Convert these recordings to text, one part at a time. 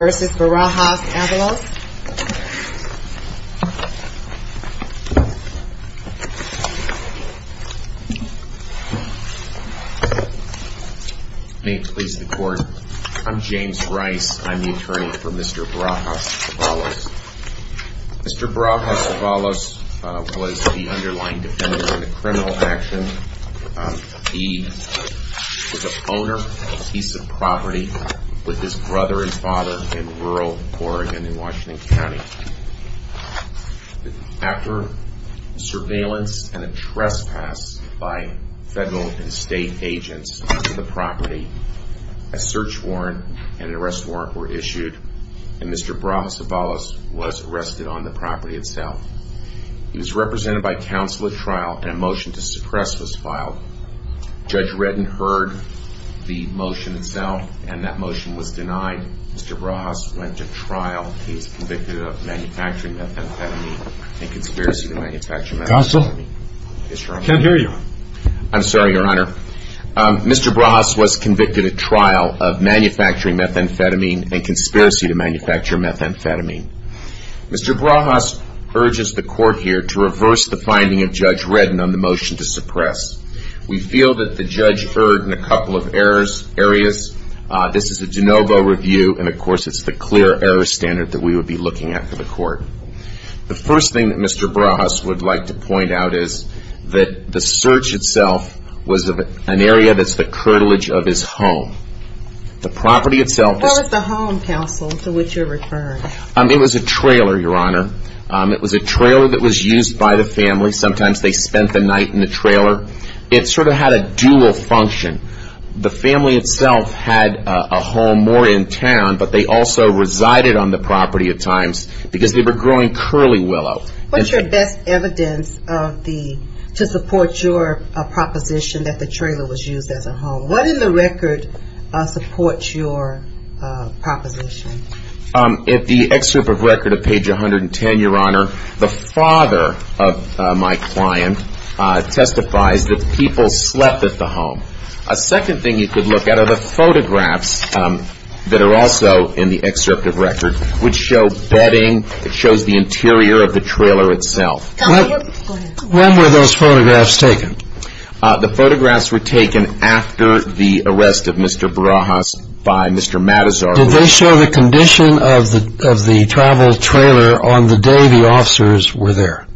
May it please the court, I'm James Rice, I'm the attorney for Mr. Brajas-Avalos. Mr. Brajas-Avalos was the underlying defendant in a criminal action. He was the owner of a piece of property with his brother and father in rural Oregon in Washington County. After surveillance and a trespass by federal and state agents into the property, a search warrant and an arrest warrant were issued, and Mr. Brajas-Avalos was arrested on the property itself. He was represented by counsel at trial, and a motion to suppress was filed. Judge Redden heard the motion itself, and Mr. Brajas-Avalos was arrested on the property itself. When that motion was denied, Mr. Brajas went to trial. He was convicted of manufacturing methamphetamine and conspiracy to manufacture methamphetamine. Mr. Brajas urges the court here to reverse the finding of Judge Redden on the motion to suppress. We feel that the judge erred in a couple of areas. This is a de novo review, and of course it's the clear error standard that we would be looking at for the court. The first thing that Mr. Brajas would like to point out is that the search itself was an area that's the curtilage of his home. The property itself is- What was the home, counsel, to which you're referring? It was a trailer, Your Honor. It was a trailer that was used by the family. Sometimes they spent the night in the trailer. It sort of had a dual function. The family itself had a home more in town, but they also resided on the property at times because they were going out to work. What's your best evidence to support your proposition that the trailer was used as a home? What in the record supports your proposition? In the excerpt of record of page 110, Your Honor, the father of my client testifies that people slept at the home. A second thing you could look at are the photographs that are also in the excerpt of record, which show bedding. It shows the interior of the trailer itself. When were those photographs taken? The photographs were taken after the arrest of Mr. Brajas by Mr. Matazar. Did they show the condition of the travel trailer on the day the officers were there?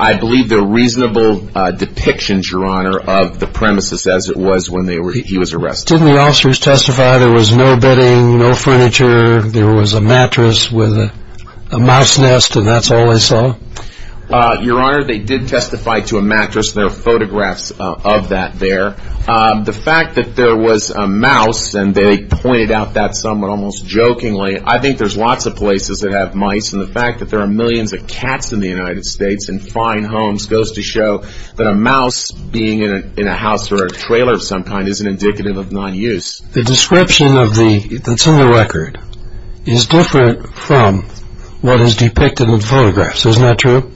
I believe they're reasonable depictions, Your Honor, of the premises as it was when he was arrested. Didn't the officers testify there was no bedding, no furniture, there was a mattress with a mouse nest, and that's all they saw? Your Honor, they did testify to a mattress, and there are photographs of that there. The fact that there was a mouse, and they pointed out that somewhat almost jokingly, I think there's lots of places that have mice. And the fact that there are millions of cats in the United States in fine homes goes to show that a mouse being in a house or a trailer of some kind isn't indicative of non-use. The description that's in the record is different from what is depicted in the photographs, isn't that true?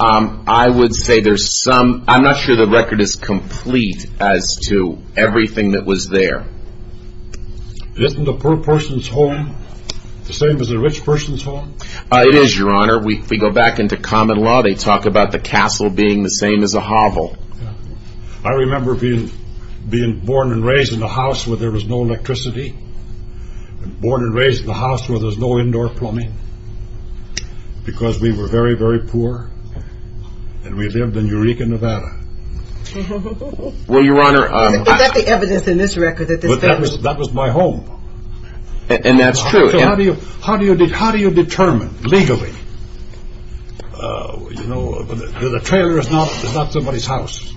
I would say there's some, I'm not sure the record is complete as to everything that was there. Isn't a poor person's home the same as a rich person's home? It is, Your Honor. If we go back into common law, they talk about the castle being the same as a hovel. I remember being born and raised in a house where there was no electricity, and born and raised in a house where there was no indoor plumbing, because we were very, very poor, and we lived in Eureka, Nevada. Was that the evidence in this record? That was my home. And that's true. So how do you determine, legally, that a trailer is not somebody's house?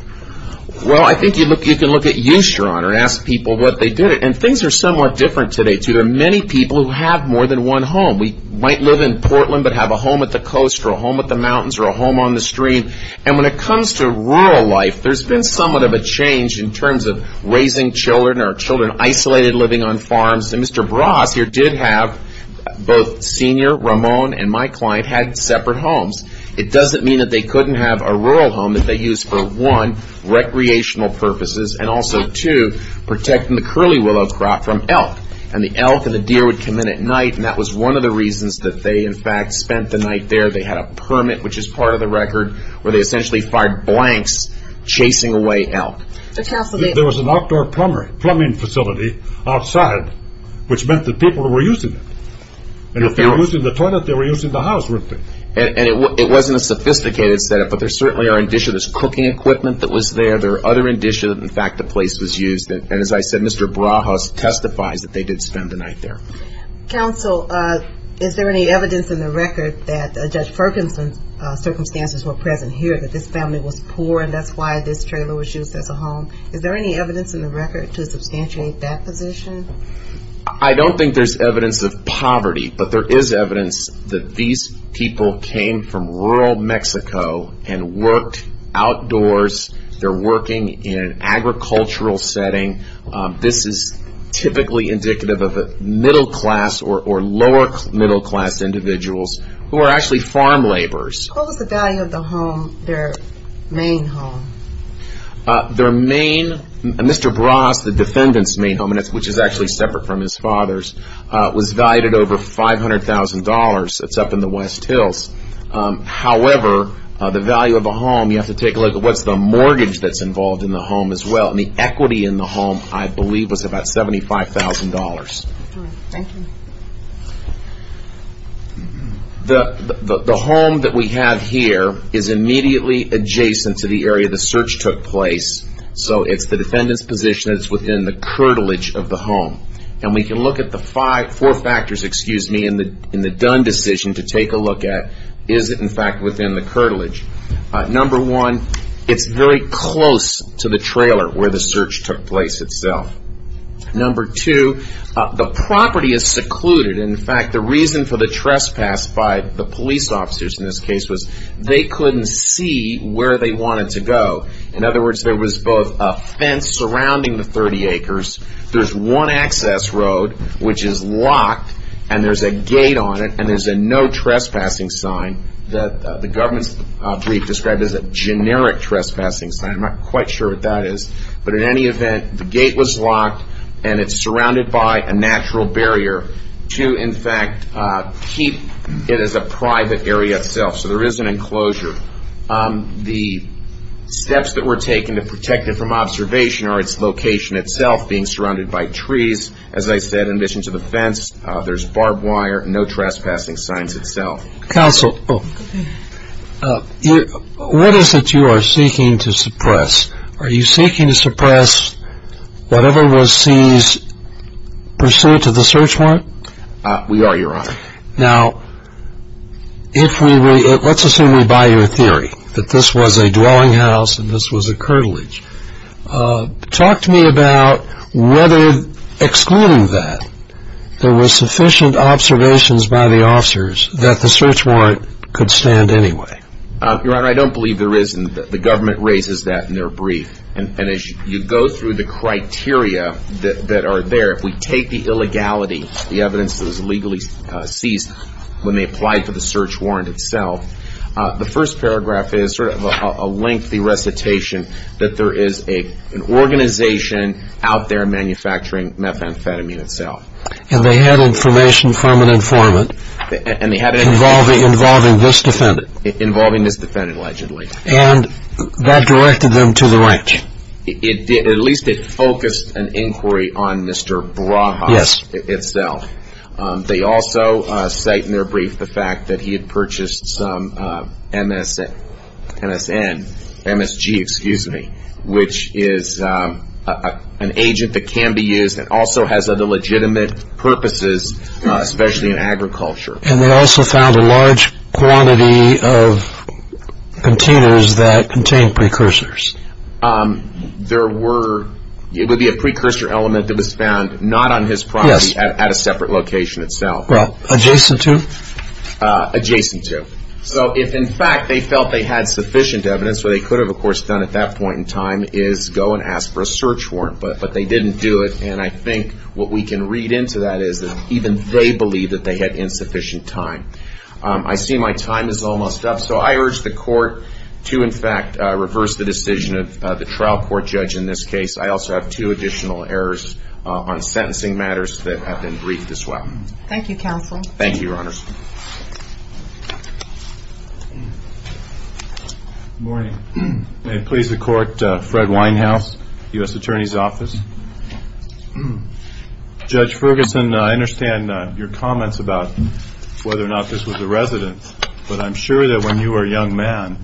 Well, I think you can look at use, Your Honor, and ask people what they did it. And things are somewhat different today, too. There are many people who have more than one home. We might live in Portland but have a home at the coast or a home at the mountains or a home on the stream. And when it comes to rural life, there's been somewhat of a change in terms of raising children or children isolated living on farms. And Mr. Bras here did have both Senior, Ramon, and my client had separate homes. It doesn't mean that they couldn't have a rural home that they used for, one, recreational purposes, and also, two, protecting the curly willow crop from elk. And the elk and the deer would come in at night, and that was one of the reasons that they, in fact, spent the night there. They had a permit, which is part of the record, where they essentially fired blanks chasing away elk. There was an outdoor plumbing facility outside, which meant that people were using it. And if they were using the toilet, they were using the house, weren't they? And it wasn't a sophisticated setup, but there certainly are indicia. There's cooking equipment that was there. There are other indicia that, in fact, the place was used. And as I said, Mr. Bras testifies that they did spend the night there. Counsel, is there any evidence in the record that Judge Ferguson's circumstances were present here, that this family was poor, and that's why this trailer was used as a home? Is there any evidence in the record to substantiate that position? I don't think there's evidence of poverty, but there is evidence that these people came from rural Mexico and worked outdoors. They're working in an agricultural setting. This is typically indicative of a middle class or lower middle class individuals who are actually farm laborers. What was the value of the home, their main home? Their main, Mr. Bras, the defendant's main home, which is actually separate from his father's, was valued at over $500,000. It's up in the West Hills. However, the value of the home, you have to take a look at what's the mortgage that's involved in the home as well. And the equity in the home, I believe, was about $75,000. Thank you. The home that we have here is immediately adjacent to the area the search took place, so it's the defendant's position that it's within the curtilage of the home. And we can look at the four factors in the Dunn decision to take a look at, is it in fact within the curtilage? Number one, it's very close to the trailer where the search took place itself. Number two, the property is secluded. In fact, the reason for the trespass by the police officers in this case was they couldn't see where they wanted to go. In other words, there was both a fence surrounding the 30 acres. There's one access road which is locked, and there's a gate on it, and there's a no trespassing sign. The government's brief described it as a generic trespassing sign. I'm not quite sure what that is. But in any event, the gate was locked, and it's surrounded by a natural barrier to, in fact, keep it as a private area itself. So there is an enclosure. The steps that were taken to protect it from observation are its location itself being surrounded by trees. As I said, in addition to the fence, there's barbed wire, no trespassing signs itself. Counsel, what is it you are seeking to suppress? Are you seeking to suppress whatever was seized pursuant to the search warrant? We are, Your Honor. Now, let's assume we buy your theory that this was a dwelling house and this was a curtilage. Talk to me about whether, excluding that, there were sufficient observations by the officers that the search warrant could stand anyway. Your Honor, I don't believe there isn't. The government raises that in their brief. And as you go through the criteria that are there, if we take the illegality, the evidence that was legally seized when they applied for the search warrant itself, the first paragraph is sort of a lengthy recitation that there is an organization out there manufacturing methamphetamine itself. And they had information from an informant involving this defendant. Involving this defendant, allegedly. And that directed them to the right. At least it focused an inquiry on Mr. Braha itself. They also cite in their brief the fact that he had purchased some MSG, which is an agent that can be used and also has other legitimate purposes, especially in agriculture. And they also found a large quantity of containers that contained precursors. There were – it would be a precursor element that was found not on his property, at a separate location itself. Well, adjacent to? Adjacent to. So if, in fact, they felt they had sufficient evidence, what they could have, of course, done at that point in time is go and ask for a search warrant. But they didn't do it. And I think what we can read into that is that even they believed that they had insufficient time. I see my time is almost up. So I urge the Court to, in fact, reverse the decision of the trial court judge in this case. I also have two additional errors on sentencing matters that have been briefed as well. Thank you, Counsel. Thank you, Your Honors. Good morning. May it please the Court, Fred Winehouse, U.S. Attorney's Office. Judge Ferguson, I understand your comments about whether or not this was the residence. But I'm sure that when you were a young man,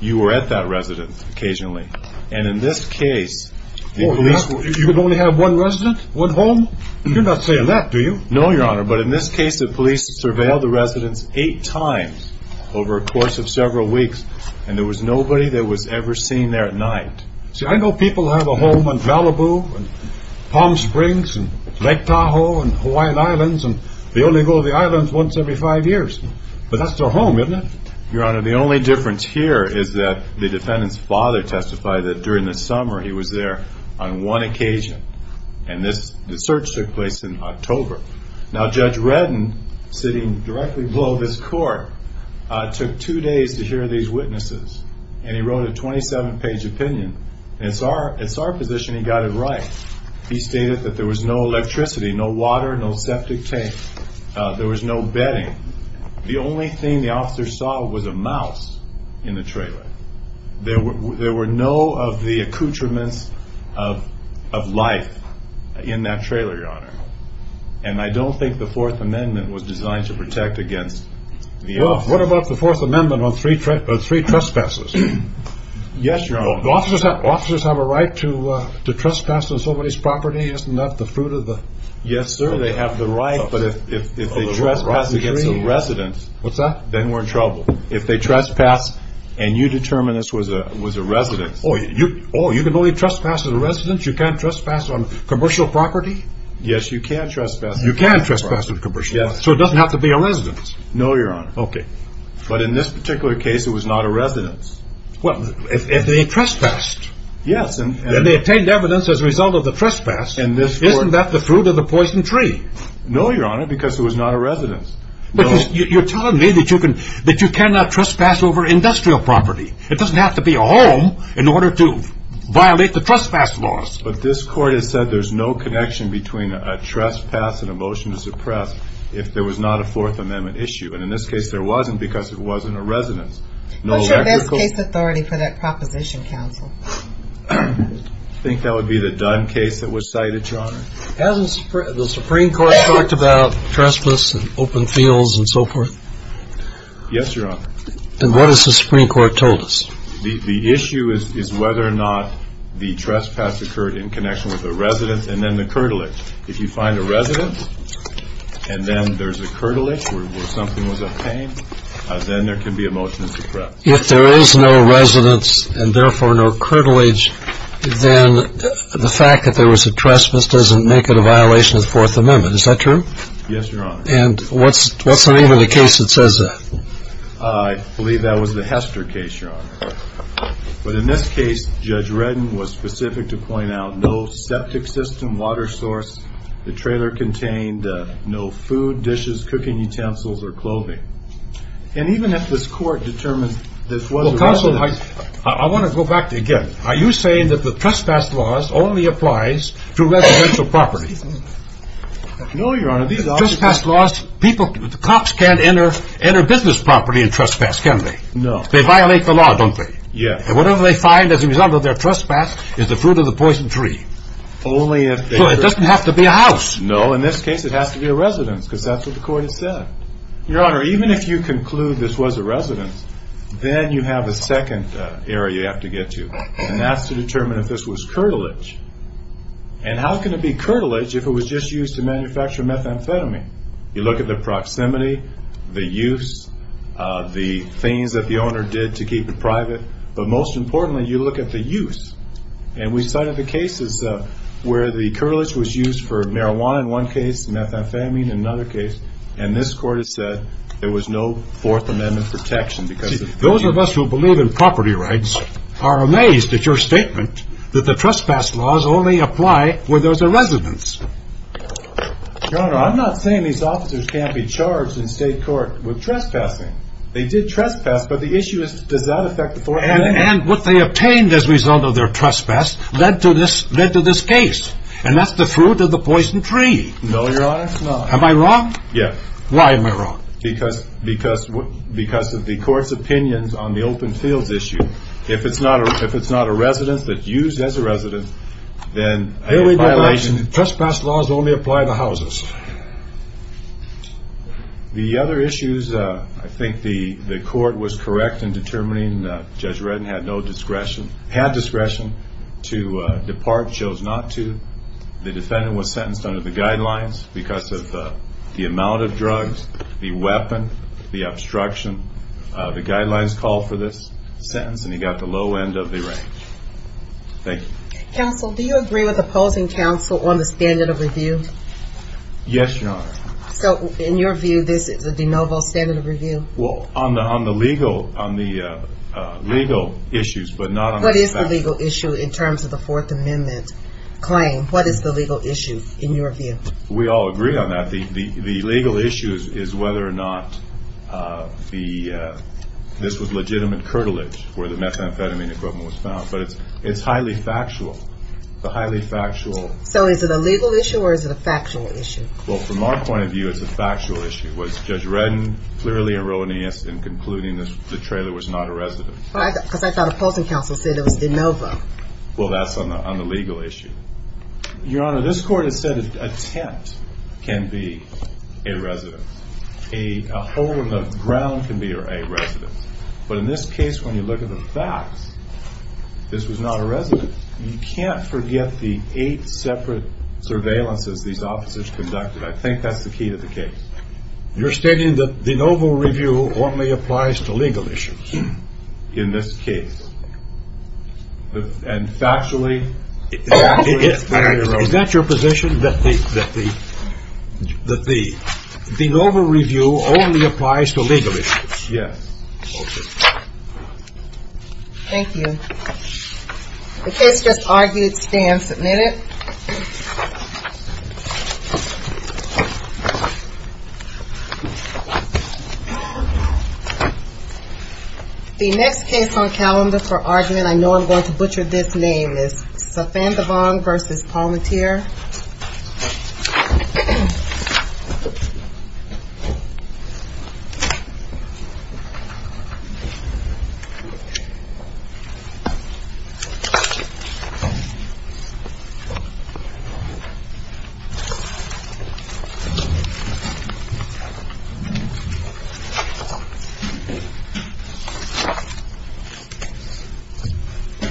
you were at that residence occasionally. And in this case, the police – You would only have one residence, one home? You're not saying that, do you? No, Your Honor. But in this case, the police surveilled the residence eight times over a course of several weeks. And there was nobody that was ever seen there at night. See, I know people have a home on Malibu and Palm Springs and Lake Tahoe and Hawaiian Islands. And they only go to the islands once every five years. But that's their home, isn't it? Your Honor, the only difference here is that the defendant's father testified that during the summer he was there on one occasion. And the search took place in October. Now, Judge Redden, sitting directly below this court, took two days to hear these witnesses. And he wrote a 27-page opinion. And it's our position he got it right. He stated that there was no electricity, no water, no septic tank. There was no bedding. The only thing the officer saw was a mouse in the trailer. There were no of the accoutrements of life in that trailer, Your Honor. And I don't think the Fourth Amendment was designed to protect against the officer. Well, what about the Fourth Amendment on three trespasses? Yes, Your Honor. Officers have a right to trespass on somebody's property, isn't that the fruit of the law? Yes, sir, they have the right. But if they trespass against a resident, then we're in trouble. If they trespass and you determine this was a resident. Oh, you can only trespass as a resident? You can't trespass on commercial property? Yes, you can trespass on commercial property. You can trespass on commercial property? Yes. So it doesn't have to be a resident? No, Your Honor. Okay. But in this particular case, it was not a resident. Well, if they trespassed. Yes. And they obtained evidence as a result of the trespass. Isn't that the fruit of the poison tree? No, Your Honor, because it was not a resident. But you're telling me that you cannot trespass over industrial property. It doesn't have to be a home in order to violate the trespass laws. But this court has said there's no connection between a trespass and a motion to suppress if there was not a Fourth Amendment issue. And in this case, there wasn't because it wasn't a resident. What's your best case authority for that proposition, counsel? I think that would be the Dunn case that was cited, Your Honor. Hasn't the Supreme Court talked about trespass and open fields and so forth? Yes, Your Honor. And what has the Supreme Court told us? The issue is whether or not the trespass occurred in connection with a resident and then the curtilage. If you find a resident and then there's a curtilage where something was obtained, then there can be a motion to suppress. If there is no residence and therefore no curtilage, then the fact that there was a trespass doesn't make it a violation of the Fourth Amendment. Is that true? Yes, Your Honor. And what's the name of the case that says that? I believe that was the Hester case, Your Honor. But in this case, Judge Redden was specific to point out no septic system, water source. The trailer contained no food, dishes, cooking utensils, or clothing. And even if this court determines this was a resident. Well, counsel, I want to go back again. Are you saying that the trespass laws only applies to residential properties? No, Your Honor. The cops can't enter business property and trespass, can they? No. They violate the law, don't they? Yes. And whatever they find as a result of their trespass is the fruit of the poison tree. So it doesn't have to be a house. No, in this case it has to be a residence because that's what the court has said. Your Honor, even if you conclude this was a residence, then you have a second area you have to get to. And that's to determine if this was curtilage. And how can it be curtilage if it was just used to manufacture methamphetamine? You look at the proximity, the use, the things that the owner did to keep it private. But most importantly, you look at the use. And we cited the cases where the curtilage was used for marijuana in one case, methamphetamine in another case. And this court has said there was no Fourth Amendment protection because of the use. Those of us who believe in property rights are amazed at your statement that the trespass laws only apply where there's a residence. Your Honor, I'm not saying these officers can't be charged in state court with trespassing. They did trespass, but the issue is does that affect the Fourth Amendment? And what they obtained as a result of their trespass led to this case. And that's the fruit of the poison tree. No, Your Honor, no. Am I wrong? Yes. Why am I wrong? Because of the court's opinions on the open fields issue. If it's not a residence that's used as a residence, then I have a violation. Trespass laws only apply to houses. The other issues, I think the court was correct in determining Judge Reddin had no discretion, had discretion to depart, chose not to. The defendant was sentenced under the guidelines because of the amount of drugs, the weapon, the obstruction. The guidelines called for this sentence, and he got the low end of the range. Thank you. Counsel, do you agree with opposing counsel on the standard of review? Yes, Your Honor. So, in your view, this is a de novo standard of review? Well, on the legal issues, but not on the trespass. What is the legal issue in terms of the Fourth Amendment claim? What is the legal issue in your view? We all agree on that. The legal issue is whether or not this was legitimate curtilage where the methamphetamine equipment was found. But it's highly factual, highly factual. So, is it a legal issue or is it a factual issue? Well, from our point of view, it's a factual issue. Was Judge Reddin clearly erroneous in concluding the trailer was not a residence? Because I thought opposing counsel said it was de novo. Well, that's on the legal issue. Your Honor, this court has said a tent can be a residence. A hole in the ground can be a residence. But in this case, when you look at the facts, this was not a residence. You can't forget the eight separate surveillances these officers conducted. I think that's the key to the case. You're stating that de novo review only applies to legal issues in this case. And factually, it's very erroneous. Is that your position, that the de novo review only applies to legal issues? Yes. Okay. Thank you. The case just argued stands. Admit it. The next case on calendar for argument, I know I'm going to butcher this name, is Safandavong v. Palmentier. Thank you.